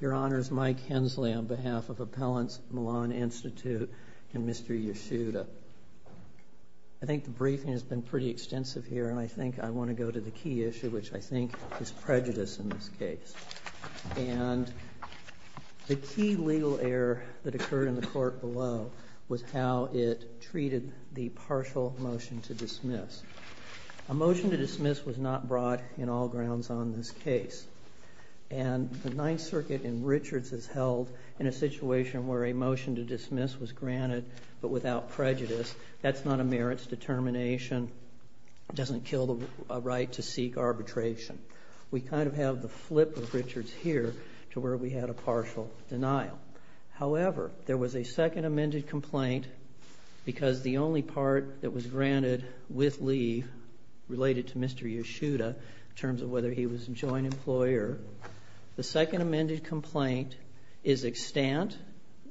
Your Honors, Mike Hensley on behalf of Appellants Milan Institute and Mr. Yasuda. I think the briefing has been pretty extensive here and I think I want to go to the key issue which I think is prejudice in this case. And the key legal error that occurred in the court below was how it treated the partial motion to dismiss. A motion to dismiss was not brought in all grounds on this case. And the Ninth Circuit in Richards is held in a situation where a motion to dismiss was granted but without prejudice. That's not a merits determination. It doesn't kill the right to seek arbitration. We kind of have the flip of Richards here to where we had a partial denial. However, there was a second amended complaint because the only part that was granted with leave related to Mr. Yasuda in terms of whether he was a joint employer. The second amended complaint is extant,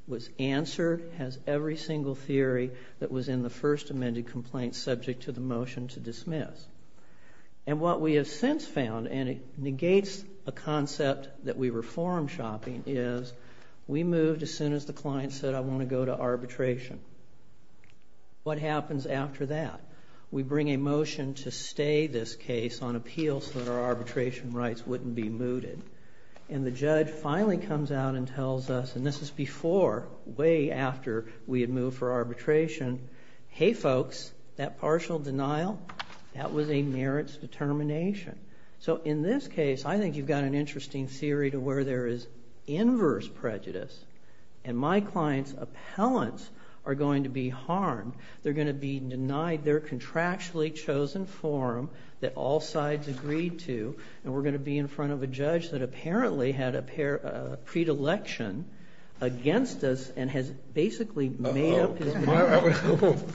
was answered, has every single theory that was in the first amended complaint subject to the motion to dismiss. And what we have since found, and it negates a concept that we reform shopping, is we moved as soon as the client said I want to go to arbitration. What happens after that? We bring a motion to stay this case on appeal so that our arbitration rights wouldn't be mooted. And the judge finally comes out and tells us, and this is before, way after we had moved for arbitration, hey folks, that partial denial, that was a merits determination. So in this case, I think you've got an interesting theory to where there is inverse prejudice. And my client's appellants are going to be harmed. They're going to be denied their contractually chosen forum that all sides agreed to. And we're going to be in front of a judge that apparently had a predilection against us and has basically made up his mind.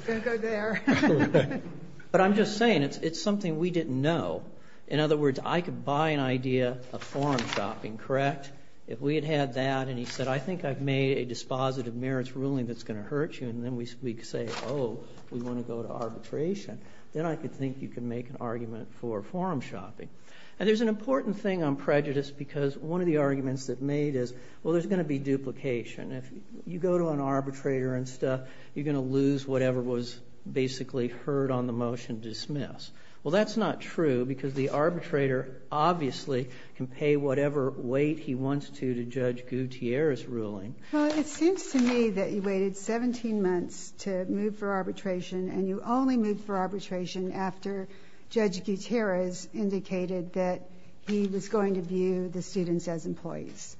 Don't go there. But I'm just saying it's something we didn't know. In other words, I could buy an idea of forum shopping, correct? If we had had that and he said, I think I've made a dispositive merits ruling that's going to hurt you, and then we say, oh, we want to go to arbitration, then I could think you could make an argument for forum shopping. And there's an important thing on prejudice because one of the arguments that's made is, well, there's going to be duplication. If you go to an arbitrator and stuff, you're going to lose whatever was basically heard on the motion dismissed. Well, that's not true because the arbitrator obviously can pay whatever weight he wants to to Judge Gutierrez's ruling. Well, it seems to me that you waited 17 months to move for arbitration, and you only moved for arbitration after Judge Gutierrez indicated that he was going to view the students as employees.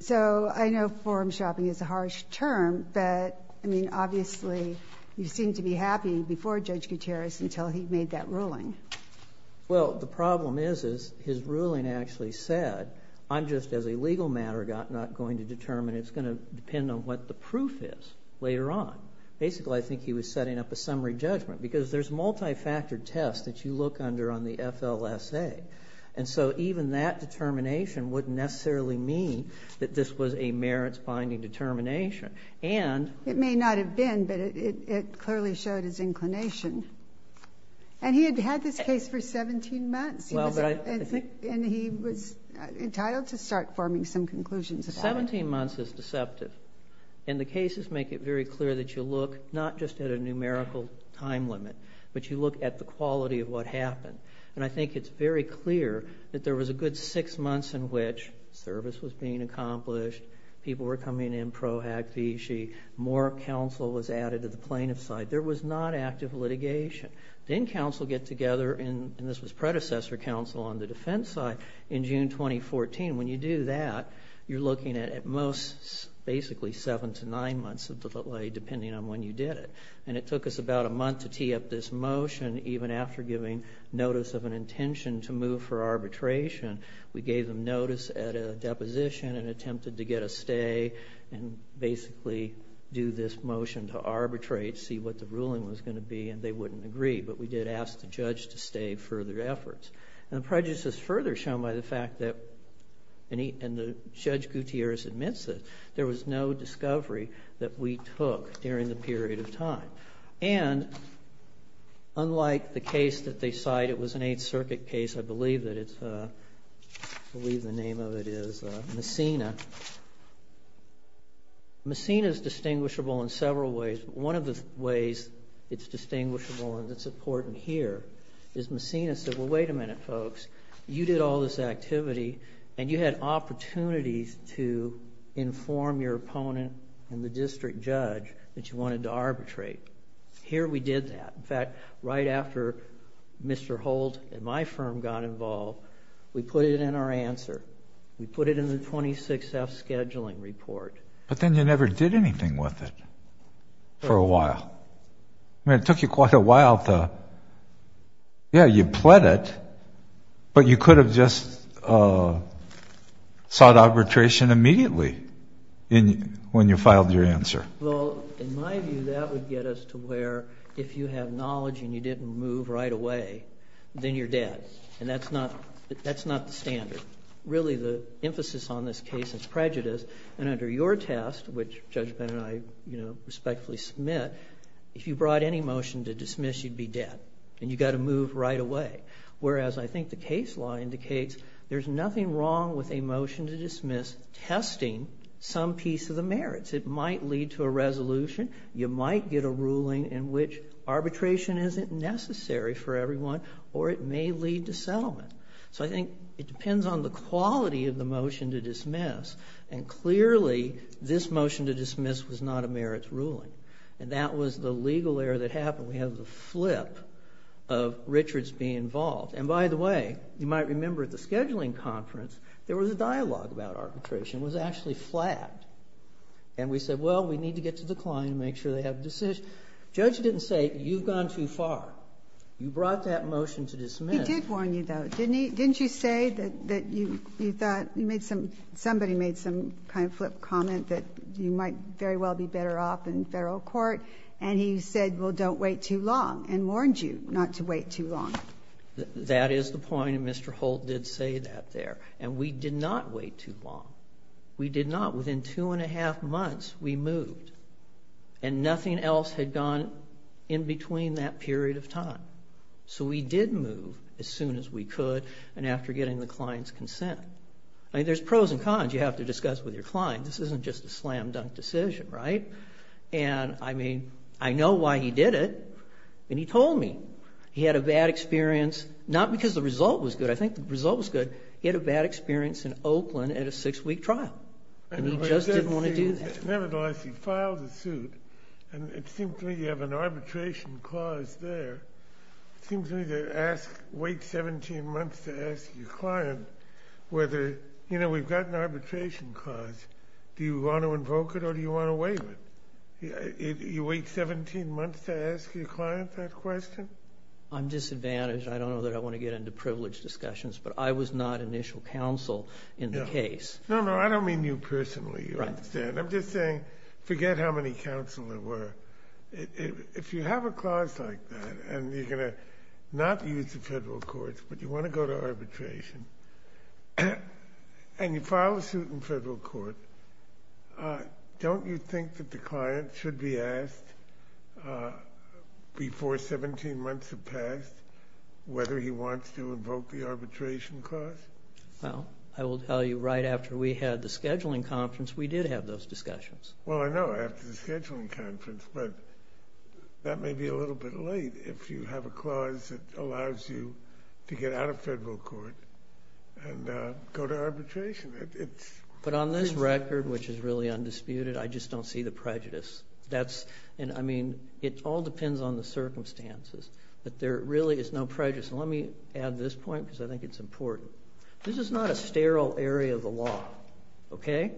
So I know forum shopping is a harsh term. But I mean, obviously, you seemed to be happy before Judge Gutierrez until he made that ruling. Well, the problem is his ruling actually said, I'm just, as a legal matter, not going to determine. It's going to depend on what the proof is later on. Basically, I think he was setting up a summary judgment because there's multi-factored tests that you look under on the FLSA. And so even that determination wouldn't necessarily mean that this was a merits-binding determination. And it may not have been, but it clearly showed his inclination. And he had had this case for 17 months, and he was entitled to start forming some conclusions about it. 17 months is deceptive, and the cases make it very clear that you look not just at a numerical time limit, but you look at the quality of what happened. And I think it's very clear that there was a good six months in which service was being accomplished, people were coming in pro-activity, more counsel was added to the plaintiff's side. There was not active litigation. Then counsel get together, and this was predecessor counsel on the defense side, in June 2014. When you do that, you're looking at at most basically seven to nine months of delay, depending on when you did it. And it took us about a month to tee up this motion, even after giving notice of an intention to move for arbitration. We gave them notice at a deposition and attempted to get a stay and basically do this motion to arbitrate, see what the ruling was going to be, and they wouldn't agree. But we did ask the judge to stay further efforts. And the prejudice is further shown by the fact that, and Judge Gutierrez admits it, there was no discovery that we took during the period of time. And unlike the case that they cite, it was an Eighth Circuit case, I believe the name of it is Messina. Messina is distinguishable in several ways. One of the ways it's distinguishable and it's important here is Messina said, well, wait a minute, folks. You did all this activity and you had opportunities to inform your opponent and the district judge that you wanted to arbitrate. Here we did that. In fact, right after Mr. Holt and my firm got involved, we put it in our answer. We put it in the 26-F scheduling report. But then you never did anything with it for a while. I mean, it took you quite a while to, yeah, you pled it, but you could have just sought arbitration immediately when you filed your answer. Well, in my view, that would get us to where if you have knowledge and you didn't move right away, then you're dead. And that's not the standard. Really, the emphasis on this case is prejudice. And under your test, which Judge Benn and I respectfully submit, if you brought any motion to dismiss, you'd be dead and you've got to move right away. Whereas I think the case law indicates there's nothing wrong with a motion to dismiss testing some piece of the merits. It might lead to a resolution. You might get a ruling in which arbitration isn't necessary for everyone or it may lead to settlement. So I think it depends on the quality of the motion to dismiss. And clearly, this motion to dismiss was not a merits ruling. And that was the legal error that happened. We have the flip of Richards being involved. And by the way, you might remember at the scheduling conference, there was a dialogue about arbitration. It was actually flagged. And we said, well, we need to get to the client and make sure they have a decision. Judge didn't say, you've gone too far. You brought that motion to dismiss. But he did warn you, though, didn't he? Didn't you say that you thought you made some – somebody made some kind of flip comment that you might very well be better off in Federal court. And he said, well, don't wait too long and warned you not to wait too long. That is the point. And Mr. Holt did say that there. And we did not wait too long. We did not. Within two and a half months, we moved. And nothing else had gone in between that period of time. So we did move as soon as we could and after getting the client's consent. I mean, there's pros and cons you have to discuss with your client. This isn't just a slam dunk decision, right? And, I mean, I know why he did it. And he told me he had a bad experience, not because the result was good. I think the result was good. He had a bad experience in Oakland at a six-week trial. And he just didn't want to do that. Nevertheless, he filed the suit. And it seems to me you have an arbitration clause there. It seems to me to wait 17 months to ask your client whether, you know, we've got an arbitration clause. Do you want to invoke it or do you want to waive it? You wait 17 months to ask your client that question? I'm disadvantaged. I don't know that I want to get into privileged discussions, but I was not initial counsel in the case. No, no, I don't mean you personally. You understand. I'm just saying forget how many counsel there were. If you have a clause like that and you're going to not use the federal courts but you want to go to arbitration and you file a suit in federal court, don't you think that the client should be asked before 17 months have passed whether he wants to invoke the arbitration clause? Well, I will tell you right after we had the scheduling conference, we did have those discussions. Well, I know, after the scheduling conference, but that may be a little bit late if you have a clause that allows you to get out of federal court and go to arbitration. But on this record, which is really undisputed, I just don't see the prejudice. I mean, it all depends on the circumstances, but there really is no prejudice. And let me add this point because I think it's important. This is not a sterile area of the law, okay?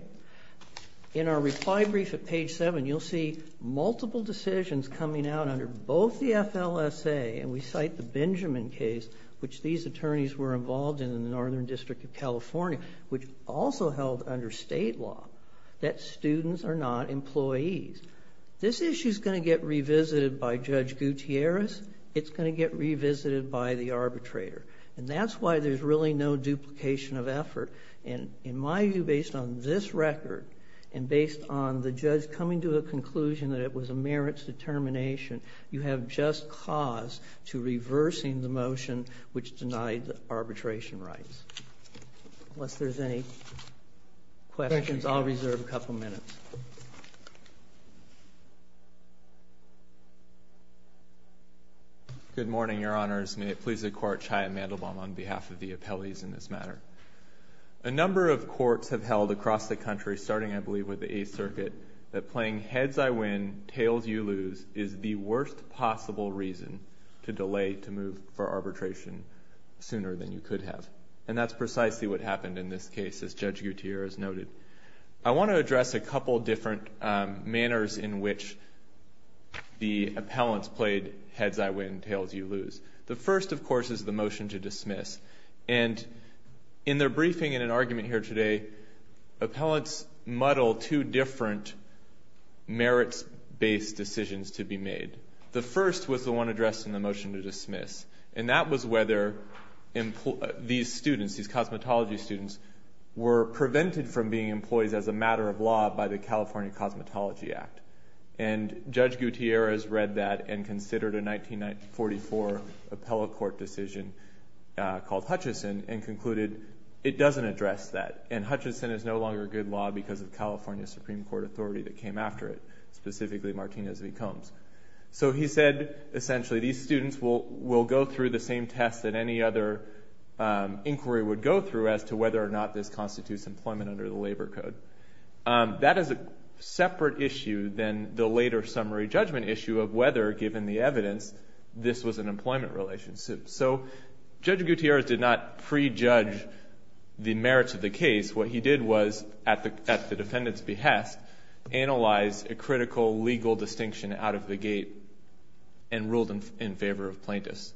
In our reply brief at page 7, you'll see multiple decisions coming out under both the FLSA, and we cite the Benjamin case, which these attorneys were involved in in the Northern District of California, which also held under state law that students are not employees. This issue is going to get revisited by Judge Gutierrez. It's going to get revisited by the arbitrator. And that's why there's really no duplication of effort. And in my view, based on this record, and based on the judge coming to a conclusion that it was a merits determination, you have just cause to reversing the motion which denied arbitration rights. Unless there's any questions, I'll reserve a couple minutes. Good morning, Your Honors. May it please the Court, on behalf of the appellees in this matter. A number of courts have held across the country, starting, I believe, with the Eighth Circuit, that playing heads I win, tails you lose is the worst possible reason to delay to move for arbitration sooner than you could have. And that's precisely what happened in this case, as Judge Gutierrez noted. I want to address a couple different manners in which the appellants played heads I win, tails you lose. The first, of course, is the motion to dismiss. And in their briefing, in an argument here today, appellants muddle two different merits-based decisions to be made. The first was the one addressed in the motion to dismiss. And that was whether these students, these cosmetology students, were prevented from being employees as a matter of law by the California Cosmetology Act. And Judge Gutierrez read that and considered a 1944 appellate court decision called Hutchison and concluded it doesn't address that. And Hutchison is no longer good law because of California Supreme Court authority that came after it, specifically Martinez v. Combs. So he said, essentially, these students will go through the same tests that any other inquiry would go through as to whether or not this constitutes employment under the Labor Code. That is a separate issue than the later summary judgment issue of whether, given the evidence, this was an employment relationship. So Judge Gutierrez did not prejudge the merits of the case. What he did was, at the defendant's behest, analyze a critical legal distinction out of the gate and ruled in favor of plaintiffs.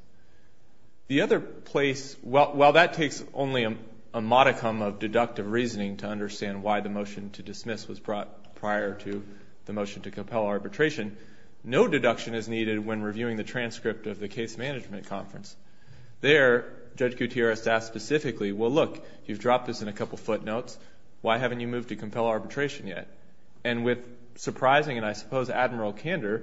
The other place, while that takes only a modicum of deductive reasoning to understand why the motion to dismiss was brought prior to the motion to compel arbitration, no deduction is needed when reviewing the transcript of the case management conference. There, Judge Gutierrez asked specifically, well, look, you've dropped this in a couple footnotes. Why haven't you moved to compel arbitration yet? And with surprising and, I suppose, admiral candor,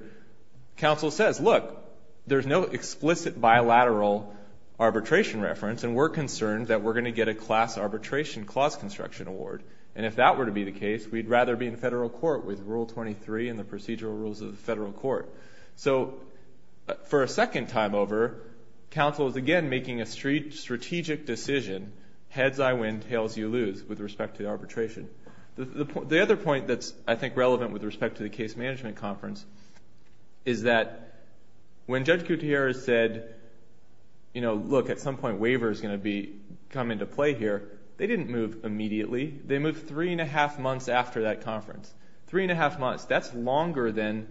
counsel says, look, there's no explicit bilateral arbitration reference and we're concerned that we're going to get a class arbitration clause construction award. And if that were to be the case, we'd rather be in federal court with Rule 23 and the procedural rules of the federal court. So for a second time over, counsel is again making a strategic decision, heads I win, tails you lose, with respect to arbitration. The other point that's, I think, relevant with respect to the case management conference is that when Judge Gutierrez said, you know, look, at some point waiver is going to come into play here, they didn't move immediately. They moved three and a half months after that conference. Three and a half months. That's longer than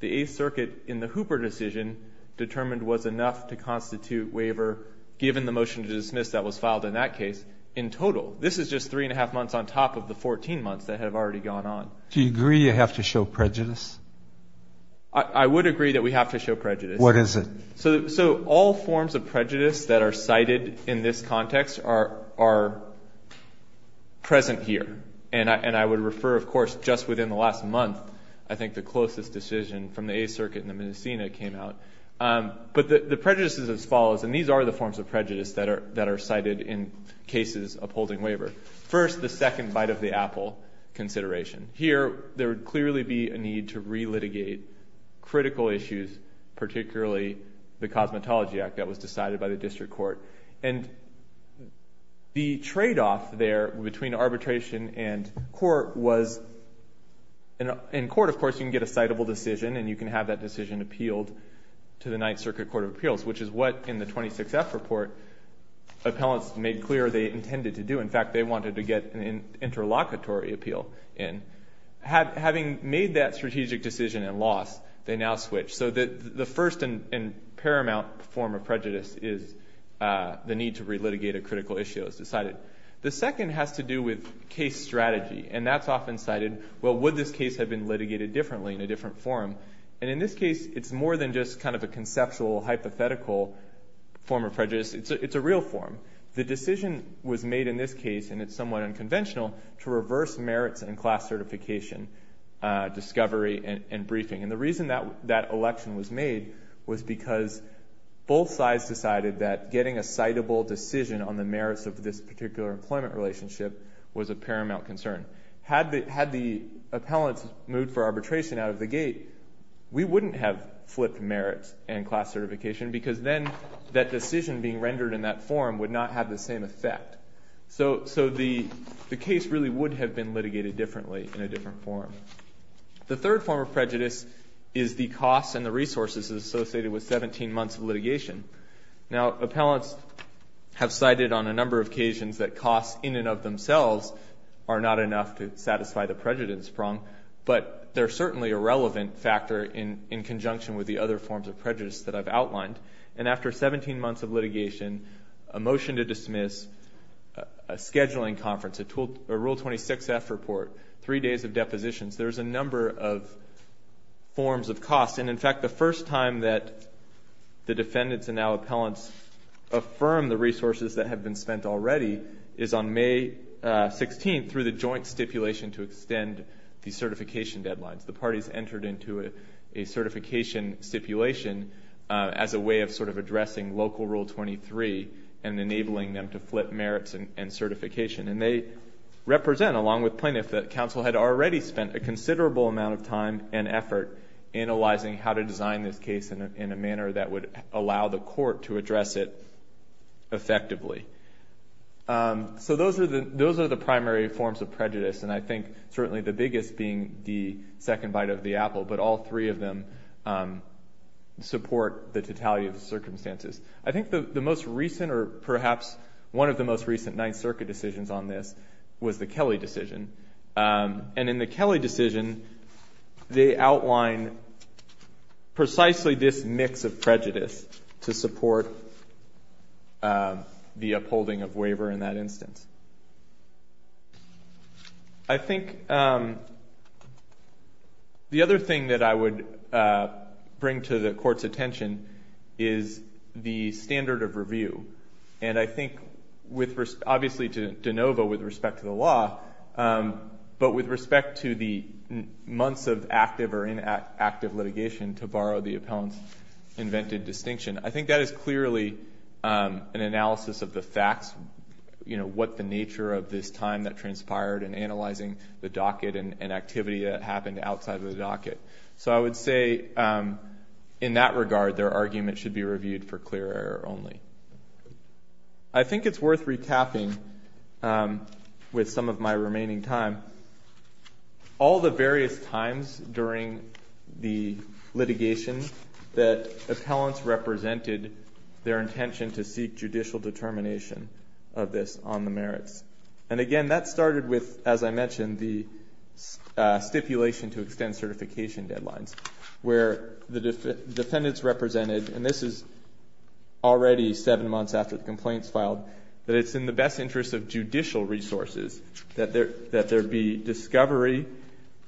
the Eighth Circuit in the Hooper decision determined was enough to constitute waiver given the motion to dismiss that was filed in that case in total. This is just three and a half months on top of the 14 months that have already gone on. Do you agree you have to show prejudice? I would agree that we have to show prejudice. What is it? So all forms of prejudice that are cited in this context are present here. And I would refer, of course, just within the last month, I think the closest decision from the Eighth Circuit and the Medicina came out. But the prejudice is as follows, and these are the forms of prejudice that are cited in cases upholding waiver. First, the second bite of the apple consideration. Here, there would clearly be a need to relitigate critical issues, particularly the Cosmetology Act that was decided by the district court. And the tradeoff there between arbitration and court was, in court, of course, you can get a citable decision and you can have that decision appealed to the Ninth Circuit Court of Appeals, which is what, in the 26F report, appellants made clear they intended to do. In fact, they wanted to get an interlocutory appeal in. Having made that strategic decision and loss, they now switch. So the first and paramount form of prejudice is the need to relitigate a critical issue as decided. The second has to do with case strategy, and that's often cited, well, would this case have been litigated differently, in a different form? And in this case, it's more than just kind of a conceptual, hypothetical form of prejudice. It's a real form. The decision was made in this case, and it's somewhat unconventional, to reverse merits and class certification discovery and briefing. And the reason that election was made was because both sides decided that getting a citable decision on the merits of this particular employment relationship was a paramount concern. Had the appellants moved for arbitration out of the gate, we wouldn't have flipped merits and class certification because then that decision being rendered in that form would not have the same effect. So the case really would have been litigated differently, in a different form. The third form of prejudice is the costs and the resources associated with 17 months of litigation. Now, appellants have cited on a number of occasions that costs in and of themselves are not enough to satisfy the prejudice prong, but they're certainly a relevant factor in conjunction with the other forms of prejudice that I've outlined. And after 17 months of litigation, a motion to dismiss, a scheduling conference, a Rule 26-F report, three days of depositions, there's a number of forms of costs. And, in fact, the first time that the defendants and now appellants affirm the resources that have been spent already is on May 16th through the joint stipulation to extend the certification deadlines. The parties entered into a certification stipulation as a way of sort of addressing local Rule 23 and enabling them to flip merits and certification. And they represent, along with plaintiffs, that counsel had already spent a considerable amount of time and effort analyzing how to design this case in a manner that would allow the court to address it effectively. So those are the primary forms of prejudice, and I think certainly the biggest being the second bite of the apple, but all three of them support the totality of the circumstances. I think the most recent, or perhaps one of the most recent Ninth Circuit decisions on this was the Kelly decision. And in the Kelly decision, they outline precisely this mix of prejudice to support the upholding of waiver in that instance. I think the other thing that I would bring to the Court's attention is the standard of review. And I think, obviously to de novo with respect to the law, but with respect to the months of active or inactive litigation, to borrow the appellant's invented distinction, I think that is clearly an analysis of the facts, what the nature of this time that transpired in analyzing the docket and activity that happened outside of the docket. So I would say, in that regard, their argument should be reviewed for clear error only. I think it's worth recapping with some of my remaining time, all the various times during the litigation that appellants represented their intention to seek judicial determination of this on the merits. And again, that started with, as I mentioned, the stipulation to extend certification deadlines, where the defendants represented, and this is already seven months after the complaints filed, that it's in the best interest of judicial resources that there be discovery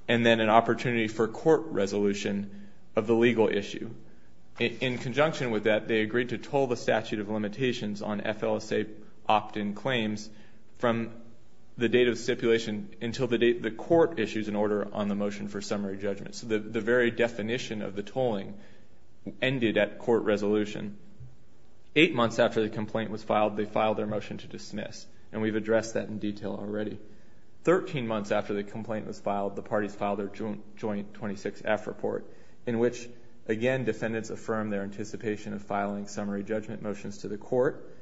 and then an opportunity for court resolution of the legal issue. In conjunction with that, they agreed to toll the statute of limitations on FLSA opt-in claims from the date of stipulation until the court issues an order on the motion for summary judgment. So the very definition of the tolling ended at court resolution. Eight months after the complaint was filed, they filed their motion to dismiss, and we've addressed that in detail already. Thirteen months after the complaint was filed, the parties filed their joint 26-F report, in which, again, defendants affirmed their anticipation of filing summary judgment motions to the court.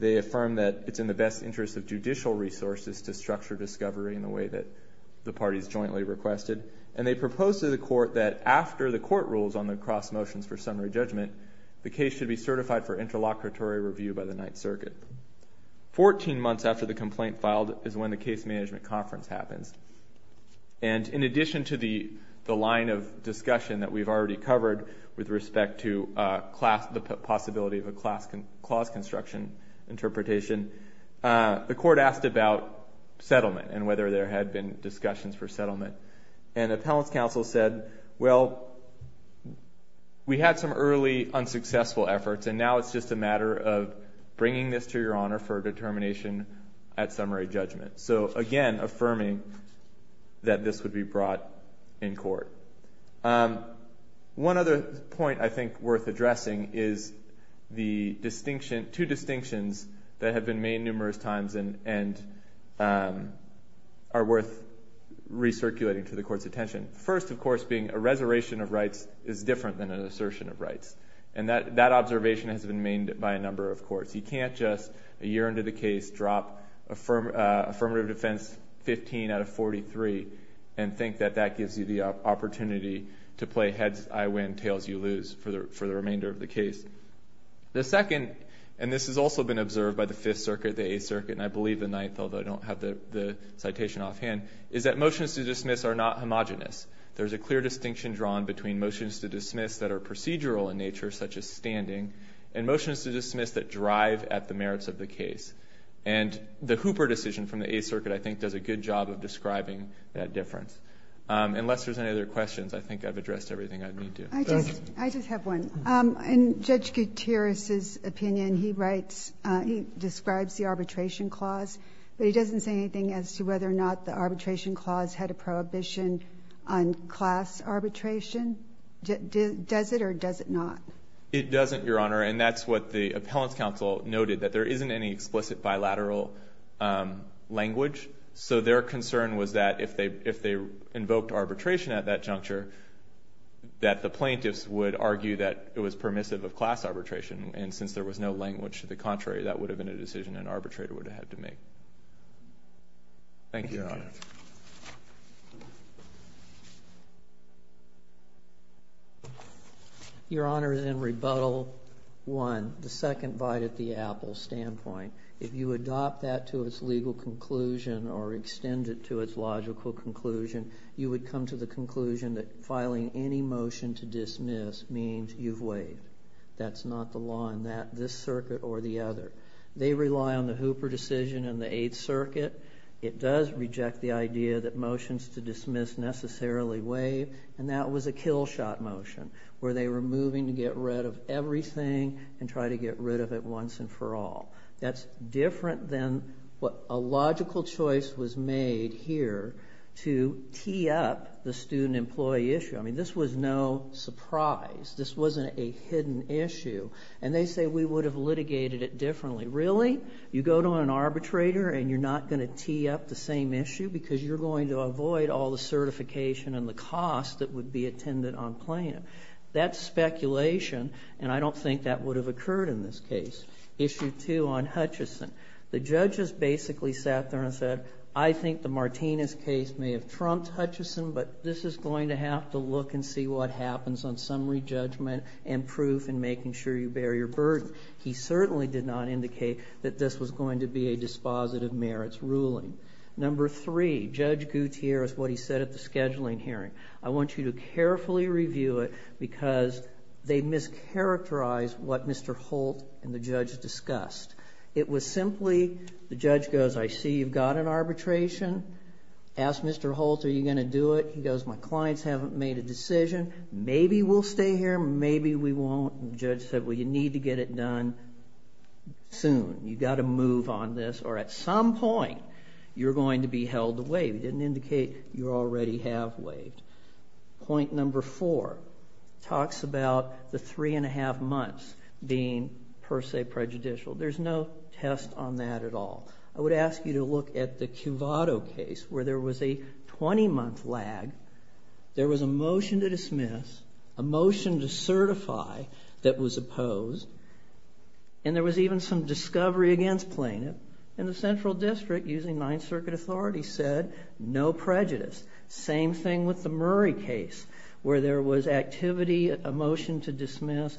They affirmed that it's in the best interest of judicial resources to structure discovery in the way that the parties jointly requested. And they proposed to the court that after the court rules on the cross motions for summary judgment, the case should be certified for interlocutory review by the Ninth Circuit. Fourteen months after the complaint filed is when the case management conference happens. And in addition to the line of discussion that we've already covered with respect to the possibility of a clause construction interpretation, the court asked about settlement and whether there had been discussions for settlement. And appellant's counsel said, well, we had some early unsuccessful efforts, and now it's just a matter of bringing this to your honor for determination at summary judgment. So, again, affirming that this would be brought in court. One other point I think worth addressing is the two distinctions that have been made numerous times and are worth recirculating to the court's attention. First, of course, being a reservation of rights is different than an assertion of rights. And that observation has been made by a number of courts. You can't just, a year into the case, drop affirmative defense 15 out of 43 and think that that gives you the opportunity to play heads, I win, tails, you lose for the remainder of the case. The second, and this has also been observed by the Fifth Circuit, the Eighth Circuit, and I believe the Ninth, although I don't have the citation offhand, is that motions to dismiss are not homogenous. There's a clear distinction drawn between motions to dismiss that are procedural in nature, such as standing, and motions to dismiss that drive at the merits of the case. And the Hooper decision from the Eighth Circuit, I think, does a good job of describing that difference. Unless there's any other questions, I think I've addressed everything I need to. I just have one. In Judge Gutierrez's opinion, he describes the arbitration clause, but he doesn't say anything as to whether or not the arbitration clause had a prohibition on class arbitration. Does it or does it not? It doesn't, Your Honor, and that's what the Appellant's Counsel noted, that there isn't any explicit bilateral language. So their concern was that if they invoked arbitration at that juncture, that the plaintiffs would argue that it was permissive of class arbitration, and since there was no language to the contrary, that would have been a decision an arbitrator would have had to make. Thank you, Your Honor. Your Honor, in Rebuttal 1, the second bite at the Appell standpoint, if you adopt that to its legal conclusion or extend it to its logical conclusion, you would come to the conclusion that filing any motion to dismiss means you've waived. That's not the law in this circuit or the other. They rely on the Hooper decision in the Eighth Circuit. It does reject the idea that motions to dismiss necessarily waive, and that was a kill-shot motion where they were moving to get rid of everything and try to get rid of it once and for all. That's different than what a logical choice was made here to tee up the student-employee issue. I mean, this was no surprise. This wasn't a hidden issue, and they say we would have litigated it differently. Really? You go to an arbitrator and you're not going to tee up the same issue because you're going to avoid all the certification and the cost that would be attended on plaintiff. That's speculation, and I don't think that would have occurred in this case. Issue 2 on Hutchison. The judges basically sat there and said, I think the Martinez case may have trumped Hutchison, but this is going to have to look and see what happens on summary judgment and proof in making sure you bear your burden. He certainly did not indicate that this was going to be a dispositive merits ruling. Number 3, Judge Gutierrez, what he said at the scheduling hearing. I want you to carefully review it because they mischaracterized what Mr. Holt and the judge discussed. It was simply, the judge goes, I see you've got an arbitration. Ask Mr. Holt, are you going to do it? He goes, my clients haven't made a decision. Maybe we'll stay here, maybe we won't. The judge said, well, you need to get it done soon. You've got to move on this, or at some point you're going to be held away. He didn't indicate you already have waived. Point number 4 talks about the 3 1⁄2 months being per se prejudicial. There's no test on that at all. I would ask you to look at the Cuvado case where there was a 20-month lag, there was a motion to dismiss, a motion to certify that was opposed, and there was even some discovery against plaintiff. And the central district, using 9th Circuit authority, said no prejudice. Same thing with the Murray case where there was activity, a motion to dismiss,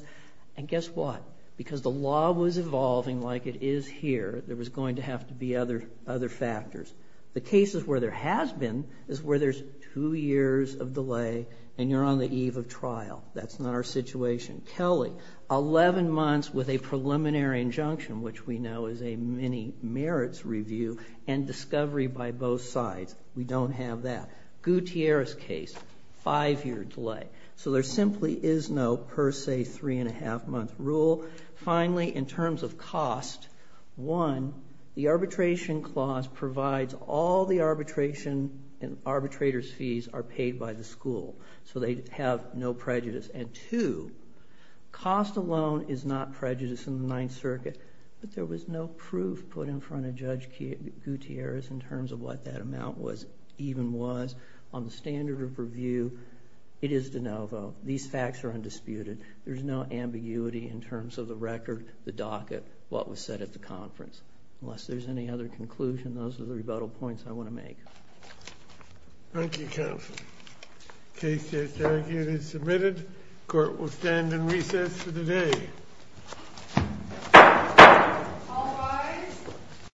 and guess what? Because the law was evolving like it is here, there was going to have to be other factors. The cases where there has been is where there's 2 years of delay and you're on the eve of trial. That's not our situation. Kelly, 11 months with a preliminary injunction, which we know is a many merits review, and discovery by both sides. We don't have that. Gutierrez case, 5-year delay. So there simply is no per se 3 1⁄2-month rule. Finally, in terms of cost, one, the arbitration clause provides all the arbitration and arbitrator's fees are paid by the school, so they have no prejudice. And two, cost alone is not prejudice in the 9th Circuit, but there was no proof put in front of Judge Gutierrez in terms of what that amount even was. On the standard of review, it is de novo. These facts are undisputed. There's no ambiguity in terms of the record, the docket, what was said at the conference. Unless there's any other conclusion, those are the rebuttal points I want to make. Thank you, counsel. Case is submitted. Court will stand in recess for the day. All rise.